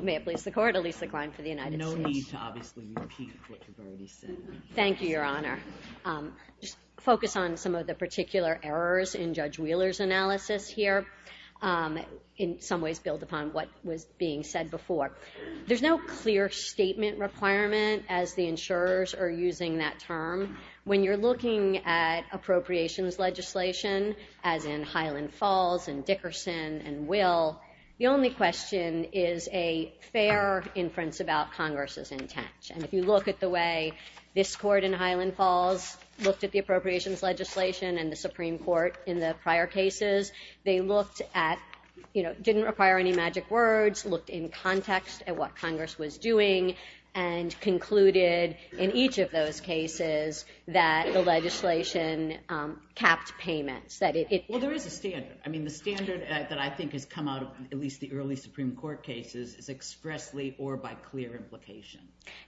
May it please the Court, Elisa Klein for the United States. Thank you Your Honor. Just focus on some of the particular errors in Judge Wheeler's analysis here, in some ways build upon what was being said before. There's no clear statement requirement as the insurers are using that term. When you're looking at appropriations legislation, as in Highland Falls and Dickerson and Will, the only question is a fair inference about Congress's intent. And if you look at the way this Court in Highland Falls looked at the appropriations legislation and the Supreme Court in the prior cases, they looked at, you know, didn't require any magic words, looked in context at what Congress was doing and concluded in each of those cases that the legislation capped payments. Well there is a standard that I think has come out, at least the early Supreme Court cases, is expressly or by clear implication.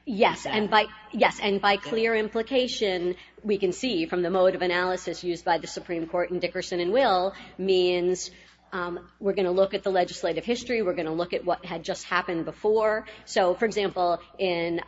Yes, and by clear implication we can see from the mode of analysis used by the Supreme Court in Dickerson and Will, means we're going to look at the legislative history, we're going to look at what had just happened before. So for example in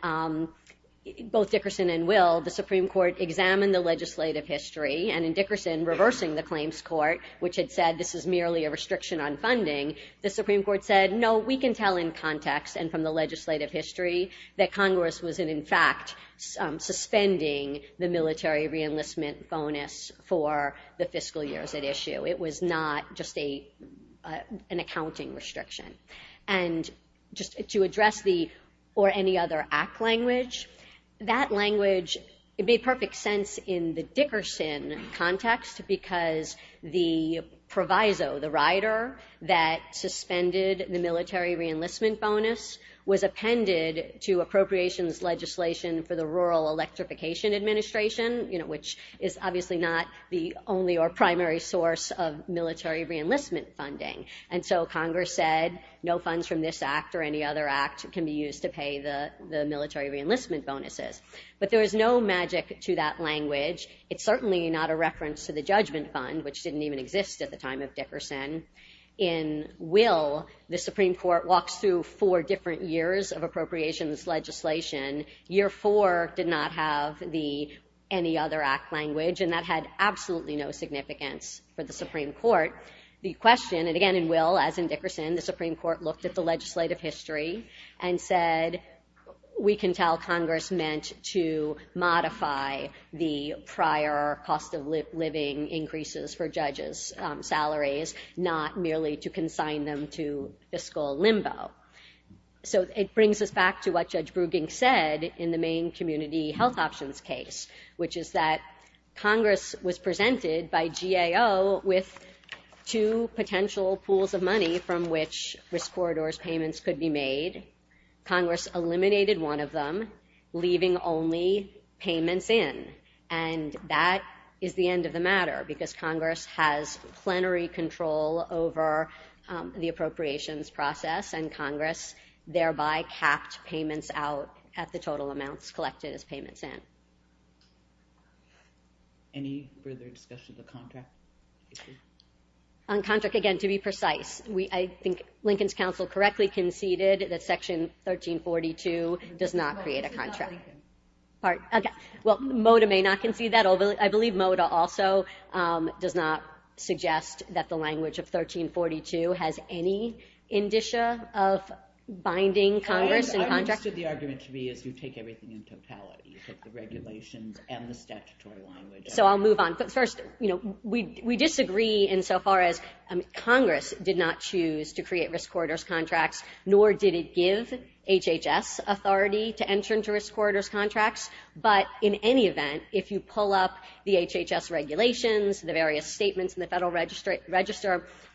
both Dickerson and Will, the Supreme Court examined the legislative history and in Dickerson reversing the claims court, which had said this is merely a restriction on funding, the Supreme Court said no, we can tell in context and from the legislative history that Congress was in fact suspending the military re-enlistment bonus for the fiscal years at issue. It was not just a an accounting restriction. And just to address the or any other act language, that language it perfect sense in the Dickerson context because the proviso, the rider, that suspended the military re-enlistment bonus was appended to appropriations legislation for the Rural Electrification Administration, you know which is obviously not the only or primary source of military re-enlistment funding. And so Congress said no funds from this act or any other act can be used to pay the to that language. It's certainly not a reference to the Judgment Fund, which didn't even exist at the time of Dickerson. In Will, the Supreme Court walks through four different years of appropriations legislation. Year four did not have the any other act language and that had absolutely no significance for the Supreme Court. The question, and again in Will as in Dickerson, the Supreme Court looked at the legislative history and said we can tell Congress meant to the prior cost of living increases for judges salaries, not merely to consign them to fiscal limbo. So it brings us back to what Judge Brueging said in the main community health options case, which is that Congress was presented by GAO with two potential pools of money from which risk corridors payments could be in. And that is the end of the matter because Congress has plenary control over the appropriations process and Congress thereby capped payments out at the total amounts collected as payments in. Any further discussion of the contract? On contract, again to be precise, I think Lincoln's Council correctly conceded that section 1342 does not create a contract. Well, Mota may not concede that, although I believe Mota also does not suggest that the language of 1342 has any indicia of binding Congress and contract. I understood the argument to be is you take everything in totality, you take the regulations and the statutory language. So I'll move on, but first you know we we disagree insofar as Congress did not choose to create risk corridors contracts, nor did it give HHS authority to enter into risk corridors contracts. But in any event, if you pull up the HHS regulations, the various statements in the Federal Register,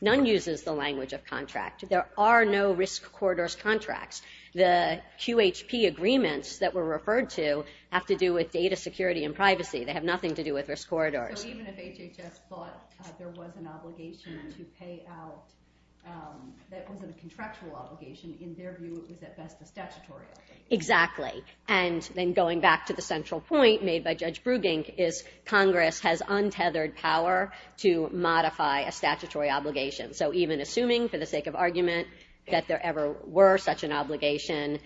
none uses the language of contract. There are no risk corridors contracts. The QHP agreements that were referred to have to do with data security and privacy. They have nothing to do with risk corridors. So even if HHS thought there was an obligation to pay out, that it wasn't a contractual obligation, in their view it was at best a statutory obligation? Exactly. And then going back to the central point made by Judge Brugink is Congress has untethered power to modify a statutory obligation. So even assuming, for the sake of argument, that there ever were such an obligation,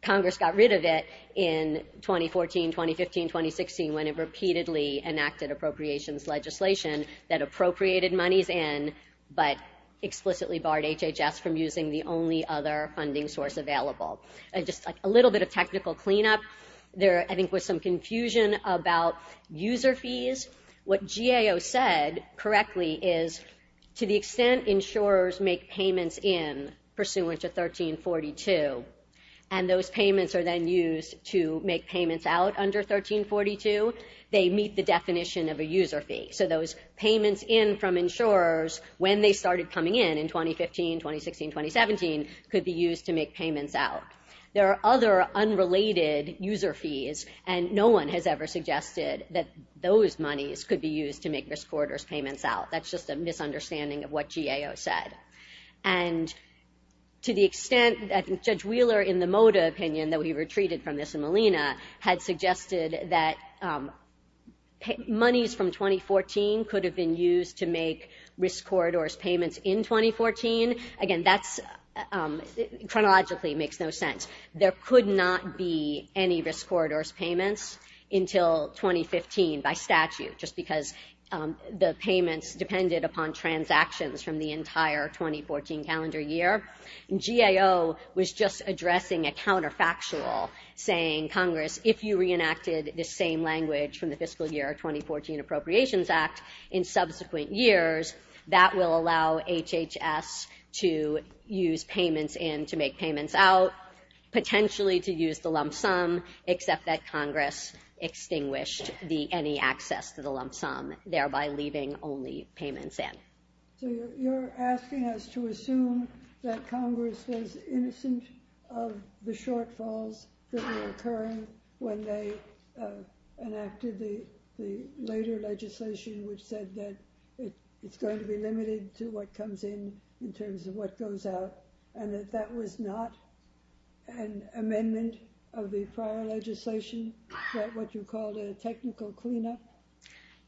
Congress got rid of it in 2014, 2015, 2016, when it repeatedly enacted appropriations legislation that appropriated monies in, but explicitly barred HHS from using the only other funding source available. And just a little bit of technical cleanup, there I think was some confusion about user fees. What GAO said correctly is to the extent insurers make payments in pursuant to 1342, and those payments are then used to make payments out under 1342, they meet the definition of a user fee. So those payments in from insurers when they started coming in, in 2015, 2016, 2017, could be used to make payments out. There are other unrelated user fees and no one has ever suggested that those monies could be used to make risk corridors payments out. That's just a misunderstanding of what GAO said. And to the extent that Judge Wheeler, in the Mota opinion that we retreated from this in Molina, had suggested that monies from 2014 could have been used to make risk corridors payments in 2014, again that's chronologically makes no sense. There could not be any risk corridors payments until 2015 by statute, just because the GAO was just addressing a counterfactual saying, Congress, if you reenacted the same language from the fiscal year 2014 Appropriations Act in subsequent years, that will allow HHS to use payments in to make payments out, potentially to use the lump sum, except that Congress extinguished the any access to the lump sum. Was HHS innocent of the shortfalls that were occurring when they enacted the later legislation which said that it's going to be limited to what comes in, in terms of what goes out, and that that was not an amendment of the prior legislation, what you called a technical clean-up?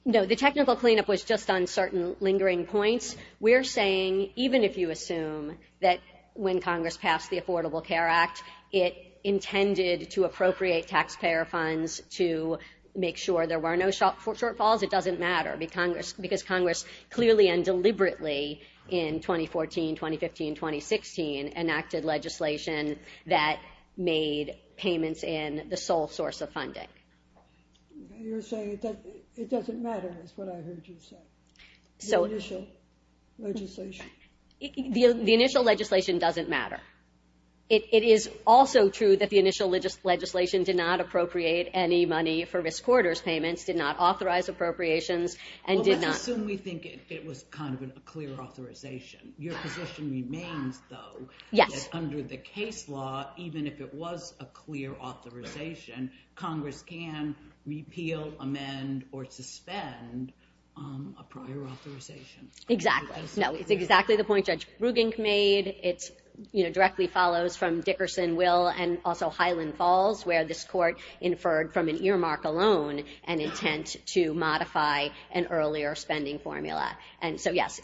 No, the technical clean-up was just on certain lingering points. We're saying, even if you assume that when Congress passed the Affordable Care Act, it intended to appropriate taxpayer funds to make sure there were no shortfalls, it doesn't matter because Congress clearly and deliberately in 2014, 2015, 2016 enacted legislation that made payments in the sole source of funding. You're saying that it doesn't matter is what I heard you say, the initial legislation. The initial legislation doesn't matter. It is also true that the initial legislation did not appropriate any money for risk corridors payments, did not authorize appropriations, and did not... Well, let's assume we think it was kind of a clear authorization. Your position remains, though, that under the case law, even if it was a clear authorization, Congress can repeal, amend, or suspend a prior authorization. Exactly. No, it's exactly the point Judge Brugink made. It directly follows from Dickerson, Will, and also Highland Falls, where this court inferred from an earmark alone an intent to modify an earlier spending formula, and so yes,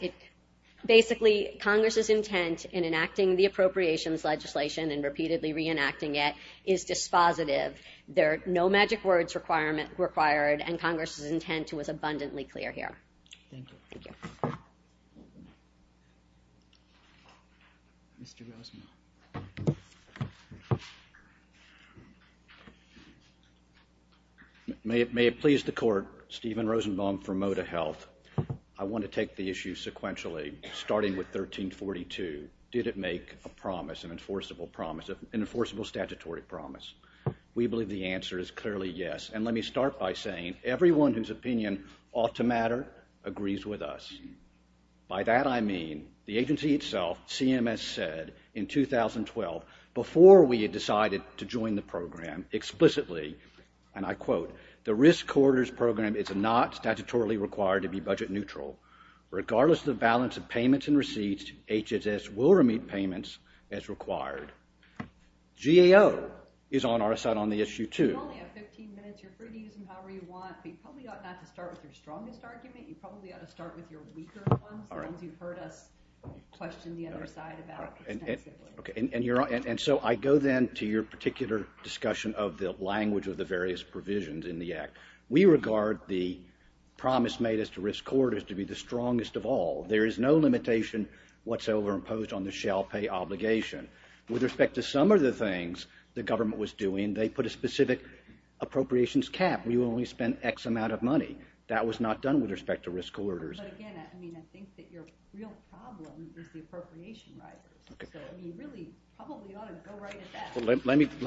basically Congress's intent in enacting the appropriations legislation and repeatedly reenacting it is dispositive. There are no magic words required, and Congress's intent was abundantly clear here. May it please the court, Stephen Rosenbaum from Moda Health. I want to take the issue sequentially, starting with 1342. Did it make a promise, an enforceable promise, an enforceable statutory promise? We believe the answer is clearly yes, and let me start by saying everyone whose opinion ought to matter agrees with us. By that I mean the agency itself, CMS, said in 2012, before we had decided to join the program, explicitly, and I quote, the Risk Corridors Program is not statutorily required to be budget neutral. Regardless of the balance of payments and receipts, HHS will remit payments as required. GAO is on our side on the issue, too. You only have 15 minutes, you're free to use them however you want, but you probably ought not to start with your strongest argument, you probably ought to start with your weaker one, as long as you've heard us question the other side about this next step. And so I go then to your particular discussion of the language of the various provisions in the Act. We regard the promise made as to Risk Corridors to be the strongest of all. There is no limitation whatsoever imposed on the shall pay obligation. With respect to some of the things the government was doing, they put a specific appropriations cap. We only spent X amount of money. That was not done with respect to Risk Corridors. Let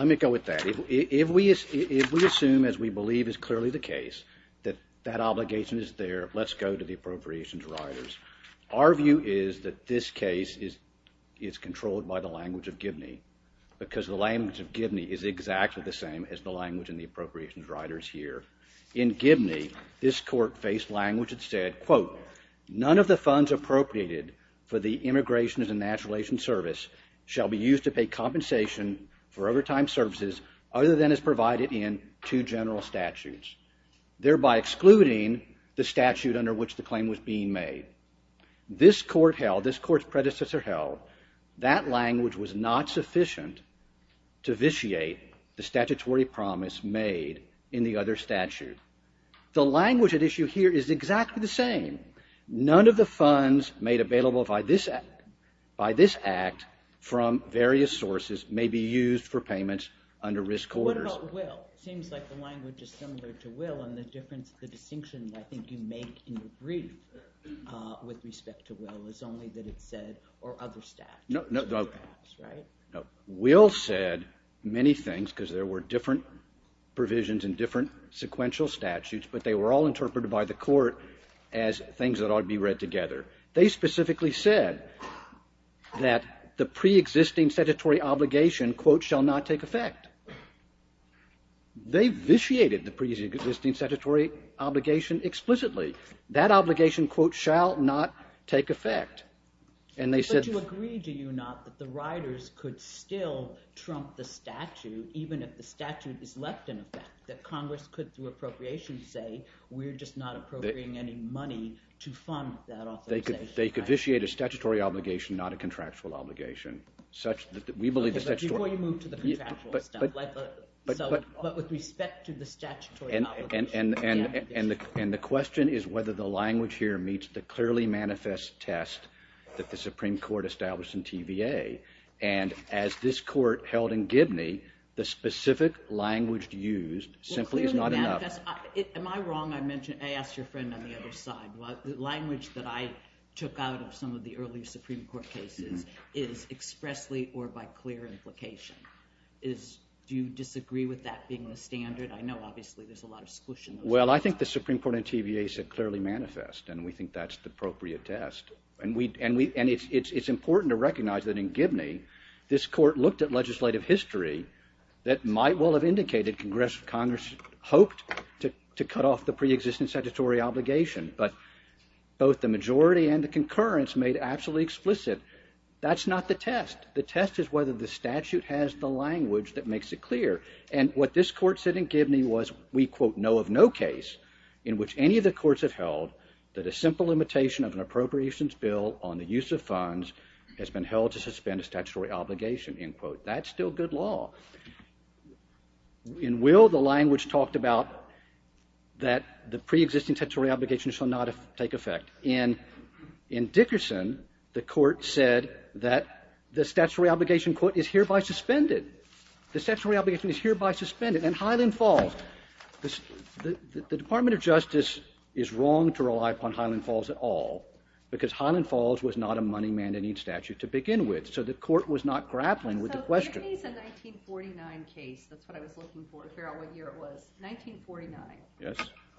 me go with that. If we assume, as we believe is clearly the case, that that obligation is there, let's go to the appropriations riders. Our view is that this case is controlled by the language of Gibney, because the language of Gibney is exactly the same as the language in the appropriations riders here. In Gibney, this court faced language that said, quote, none of the funds appropriated for the Immigration and Natural Relation Service shall be used to pay compensation for overtime services other than is provided in two general statutes, thereby excluding the statute under which the claim was being made. This court held, this court's predecessor held, that language was not sufficient to vitiate the statutory promise made in the other statute. The language at issue here is exactly the same. None of the funds made available by this act from various sources may be used for payments under Risk Corridors. What about Will? It seems like the language is similar to Will, and the difference, the distinction I think you make in your brief with respect to Will is only that it said, or other statutes. Will said many things, because there were different provisions and different sequential statutes, but they were all interpreted by the court as things that ought to be read together. They specifically said that the pre-existing statutory obligation, quote, shall not take effect. They vitiated the pre-existing statutory obligation explicitly. That obligation, quote, shall not take effect. And they said... But you agree, do you not, that the riders could still trump the statute, even if the statute is left in effect, that Congress could, through appropriation, say we're just not appropriating any money to fund that authorization. They could vitiate a statutory obligation, not a contractual obligation, such that we believe... Okay, but before you move to the contractual stuff, but with respect to the statutory obligation... And the question is whether the language here meets the clearly manifest test that the Supreme Court established in TVA, and as this court held in Gibney, the specific language used simply is not enough. Am I wrong, I mentioned, I asked your friend on the other side, the language that I took out of some of the early Supreme Court cases is expressly or by clear implication. Do you disagree with that being the standard? I know obviously there's a lot of... Well, I think the Supreme Court in TVA said clearly manifest, and we think that's the appropriate test. And we, and we, and it's important to recognize that in Gibney, this court looked at legislative history that might well have indicated Congress hoped to both the majority and the concurrence made absolutely explicit. That's not the test. The test is whether the statute has the language that makes it clear, and what this court said in Gibney was we, quote, know of no case in which any of the courts have held that a simple limitation of an appropriations bill on the use of funds has been held to suspend a statutory obligation, end quote. That's still good law. In Will, the language talked about that the pre-existing statutory obligation shall not take effect. In Dickerson, the court said that the statutory obligation, quote, is hereby suspended. The statutory obligation is hereby suspended. In Highland Falls, the Department of Justice is wrong to rely upon Highland Falls at all, because Highland Falls was not a money-mandating statute to begin with, so the court was not grappling with the question. In Gibney's 1949 case, that's what I was looking for to figure out what year it was, 1949,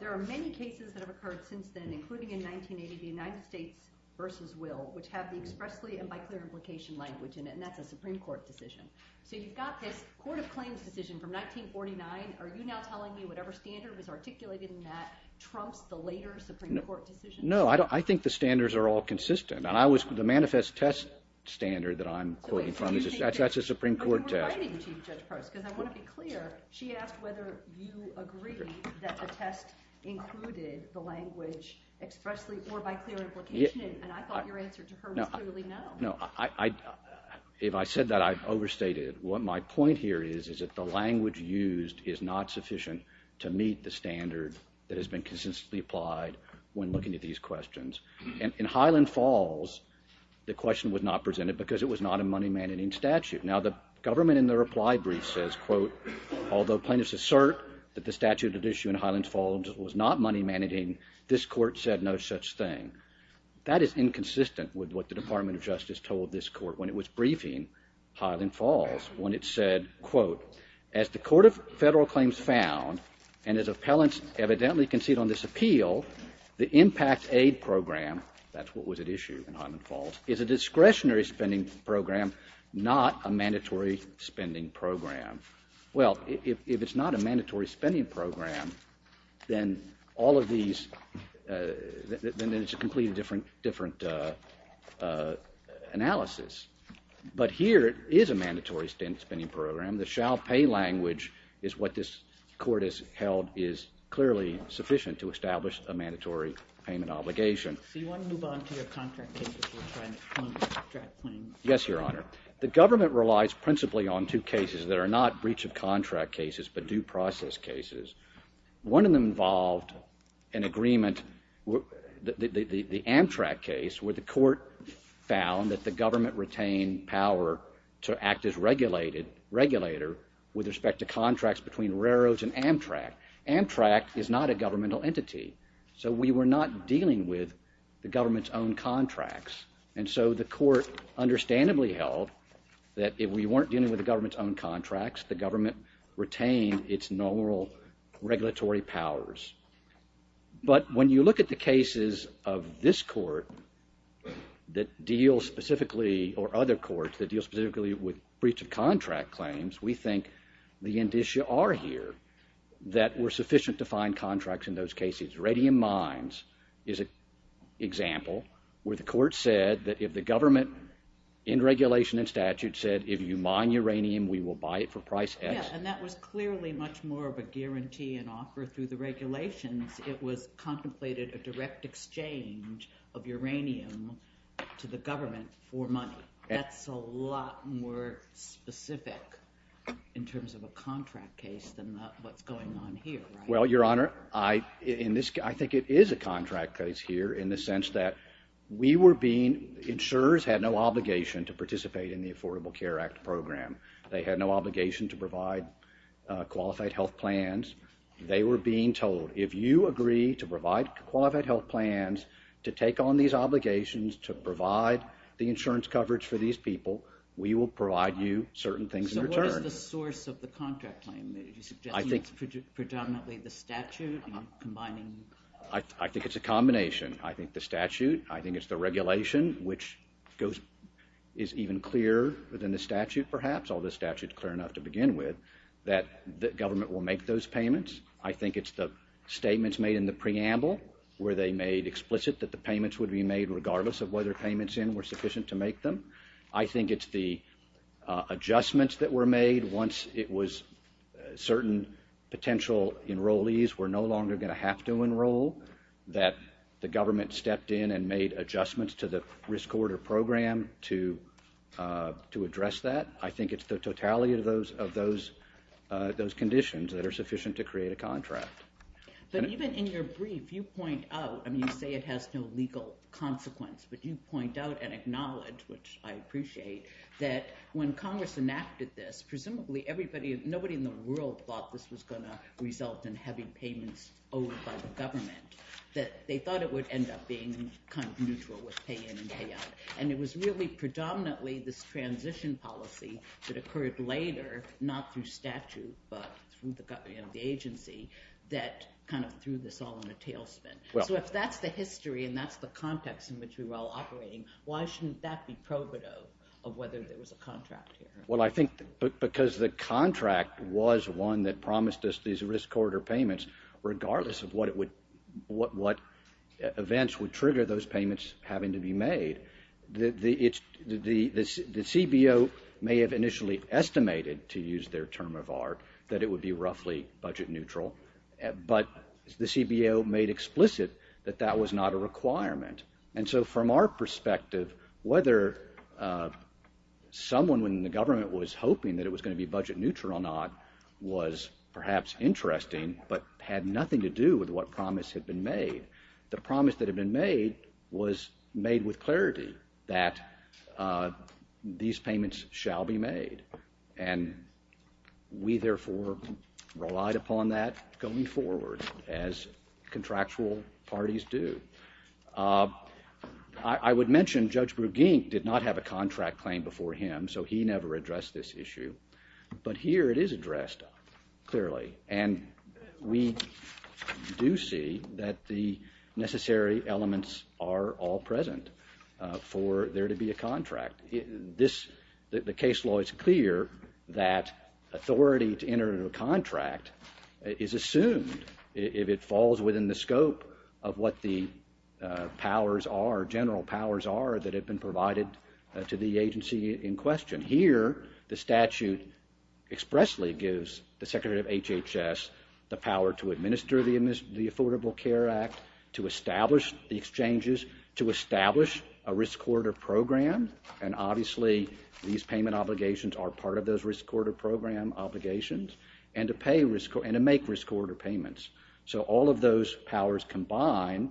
there are many cases that have occurred since then, including in 1980, the United States v. Will, which have the expressly and by clear implication language in it, and that's a Supreme Court decision. So you've got this Court of Claims decision from 1949. Are you now telling me whatever standard was articulated in that trumps the later Supreme Court decision? No, I think the standards are all consistent, and I was, the manifest test standard that I'm quoting from, that's a Supreme Court test. I want to be clear, she asked whether you agree that the test included the language expressly or by clear implication, and I thought your answer to her was clearly no. No, if I said that, I overstated it. What my point here is, is that the language used is not sufficient to meet the standard that has been consistently applied when looking at these questions. In Highland Falls, the question was not presented because it was not a money-managing statute. Now, the government in the reply brief says, quote, although plaintiffs assert that the statute at issue in Highland Falls was not money-managing, this Court said no such thing. That is inconsistent with what the Department of Justice told this Court when it was briefing Highland Falls, when it said, quote, as the Court of Federal Claims found, and as appellants evidently concede on this appeal, the impact aid program, that's what was at issue in Highland Falls, is a discretionary spending program, not a mandatory spending program. Well, if it's not a mandatory spending program, then all of these, then it's a completely different analysis. But here, it is a mandatory spending program. The shall pay language is what this Court has held is clearly sufficient to establish a mandatory payment obligation. So you want to move on to your contract cases? Yes, Your Honor. The government relies principally on two cases that are not breach of contract cases, but due process cases. One of them involved an agreement, the Amtrak case, where the Court found that the government retained power to act as regulator with respect to contracts between railroads and Amtrak. Amtrak is not a governmental entity, so we were not dealing with the government's own contracts. And so the Court understandably held that if we weren't dealing with the government's own contracts, the government retained its normal regulatory powers. But when you look at the cases of this Court that deal specifically, or other courts that deal specifically with breach of contract claims, we think the indicia are here that were sufficient to find contracts in those cases. Radium mines is an example where the Court said that if the government in regulation and statute said, if you mine uranium, we will buy it for price X. Yeah, and that was clearly much more of a guarantee and offer through the regulations. It was contemplated a direct exchange of uranium to the government for money. That's a lot more specific in terms of a contract case than what's going on here. Well, Your Honor, I think it is a contract case here in the sense that we were being, insurers had no obligation to participate in the Affordable Care Act program. They had no obligation to provide qualified health plans. They were being told, if you agree to provide qualified health plans, to take on these obligations, to provide the insurance coverage for these people, we will provide you certain things in return. So what is the source of the contract claim? Are you suggesting it's predominantly the statute? I think it's a combination. I think the statute, I think it's the regulation, which is even clearer than the statute perhaps, although the statute is clear enough to begin with, that the government will make those payments. I think it's the statements made in the preamble where they made explicit that the payments would be made regardless of whether payments in were sufficient to make them. I think it's the adjustments that were made once it was certain potential enrollees were no longer going to have to enroll that the government stepped in and made adjustments to the risk order program to address that. I think it's the totality of those conditions that are sufficient to create a contract. But even in your brief, you point out, and you say it has no legal consequence, but you point out and acknowledge, which I appreciate, that when Congress enacted this, presumably everybody, nobody in the world thought this was going to result in heavy payments owed by the government. They thought it would end up being kind of neutral with pay in and pay out. And it was really predominantly this transition policy that occurred later, not through statute, but through the agency, that kind of threw this all in a tailspin. So if that's the history and that's the context in which we were all operating, why shouldn't that be probative of whether there was a contract here? Well, I think because the contract was one that promised us these risk order payments, regardless of what events would trigger those payments having to be made, the CBO may have initially estimated, to use their term of art, that it would be roughly budget neutral. But the CBO made explicit that that was not a requirement. And so from our perspective, whether someone in the government was hoping that it was going to be budget neutral or not was perhaps interesting, but had nothing to do with what promise had been made. The promise that had been made was made with clarity that these payments shall be made. And we therefore relied upon that going forward, as contractual parties do. I would mention Judge Brugink did not have a contract claim before him, so he never addressed this issue. But here it is addressed clearly. And we do see that the necessary elements are all present for there to be a contract. The case law is clear that authority to enter into a contract is assumed if it falls within the scope of what the powers are, general powers are, that have been provided to the agency in question. And here, the statute expressly gives the Secretary of HHS the power to administer the Affordable Care Act, to establish the exchanges, to establish a risk order program, and obviously these payment obligations are part of those risk order program obligations, and to make risk order payments. So all of those powers combined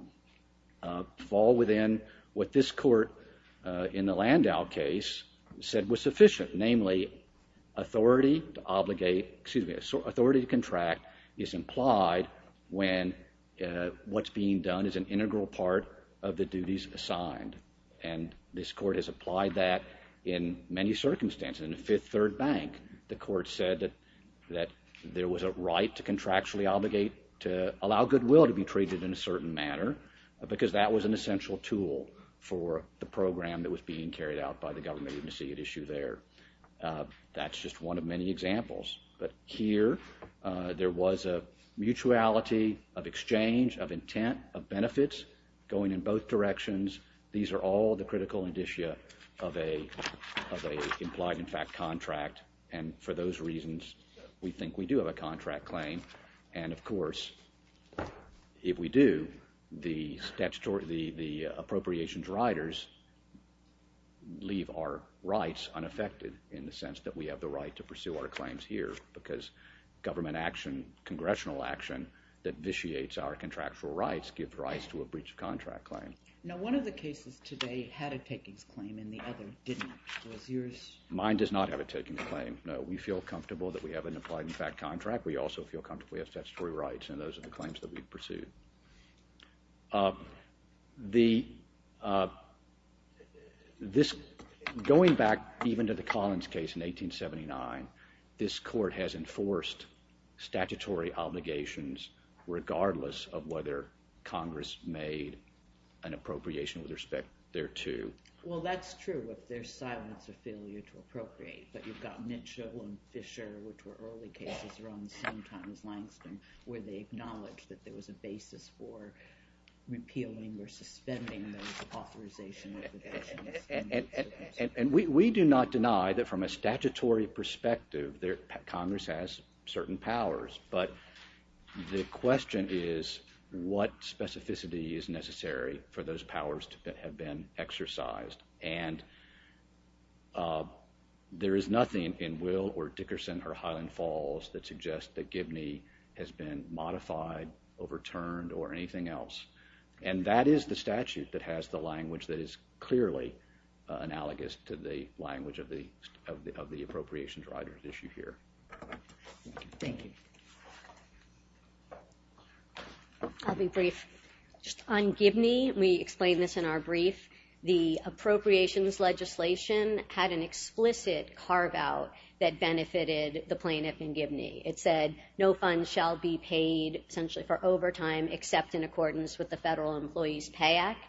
fall within what this court in the Landau case said was sufficient, namely authority to contract is implied when what's being done is an integral part of the duties assigned. And this court has applied that in many circumstances. In the Fifth Third Bank, the court said that there was a right to contractually obligate, to allow goodwill to be treated in a certain manner, because that was an essential tool for the program that was being carried out by the government. That's just one of many examples. But here, there was a mutuality of exchange, of intent, of benefits, going in both directions. These are all the critical indicia of an implied contract, and for those reasons, we think we do have a contract claim. And of course, if we do, the appropriations riders leave our rights unaffected, in the sense that we have the right to pursue our claims here, because government action, congressional action, that vitiates our contractual rights gives rise to a breach of contract claim. Now one of the cases today had a takings claim, and the other didn't. Was yours? Mine does not have a takings claim, no. We feel comfortable that we have an implied contract, we also feel comfortable we have statutory rights, and those are the claims that we pursued. Going back even to the Collins case in 1879, this court has enforced statutory obligations regardless of whether Congress made an appropriation with respect thereto. Well, that's true if there's silence or failure to appropriate, but you've got Mitchell and Fisher, which were early cases around the same time as Langston, where they acknowledged that there was a basis for repealing or suspending those authorization obligations. And we do not deny that from a statutory perspective, Congress has certain powers, but the question is what specificity is necessary for those powers to have been exercised. And there is nothing in Will or Dickerson or Highland Falls that suggests that Gibney has been modified, overturned, or anything else. And that is the statute that has the language that is clearly analogous to the language of the appropriations writers issued here. I'll be brief. On Gibney, we explained this in our brief, the appropriations legislation had an explicit carve-out that benefited the plaintiff in Gibney. It said no funds shall be paid essentially for overtime except in accordance with the Federal Employees Pay Act.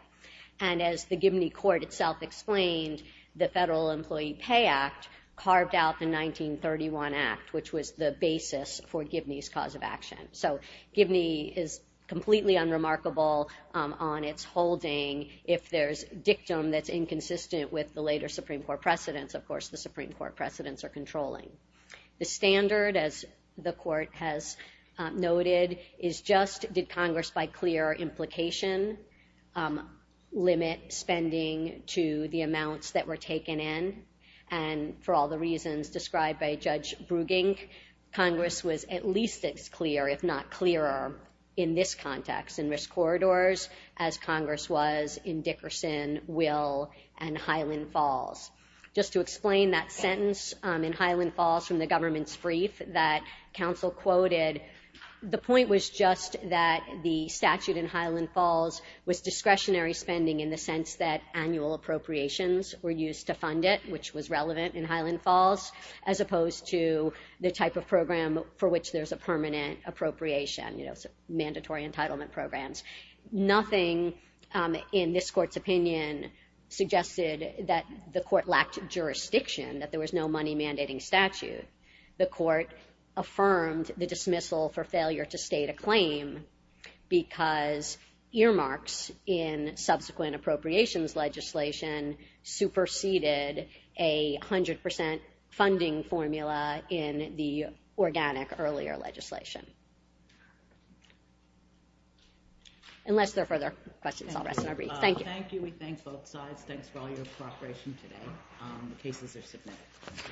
And as the Gibney court itself explained, the Federal Employee Pay Act carved out the 1931 Act, which was the basis for Gibney's cause of action. So Gibney is completely unremarkable on its holding if there's dictum that's inconsistent with the later Supreme Court precedents. Of course, the Supreme Court precedents are controlling. The standard, as the court has noted, is just did Congress by clear implication limit spending to the amounts that were taken in. And for all the reasons described by Judge Brugink, Congress was at least as clear, if not clearer, in this context, in risk corridors, as Congress was in Dickerson, Will, and Highland Falls. Just to explain that sentence in Highland Falls from the government's brief that counsel quoted, the point was just that the statute in Highland Falls was discretionary spending in the sense that annual appropriations were used to fund it, which was relevant in Highland Falls, as opposed to the type of program for which there's a permanent appropriation, you know, mandatory entitlement programs. Nothing in this court's opinion suggested that the court lacked jurisdiction, that there was no money mandating statute. The court affirmed the dismissal for failure to state a claim because earmarks in subsequent appropriations legislation superseded a 100% funding formula in the organic earlier legislation. Unless there are further questions, I'll rest my briefs. Thank you.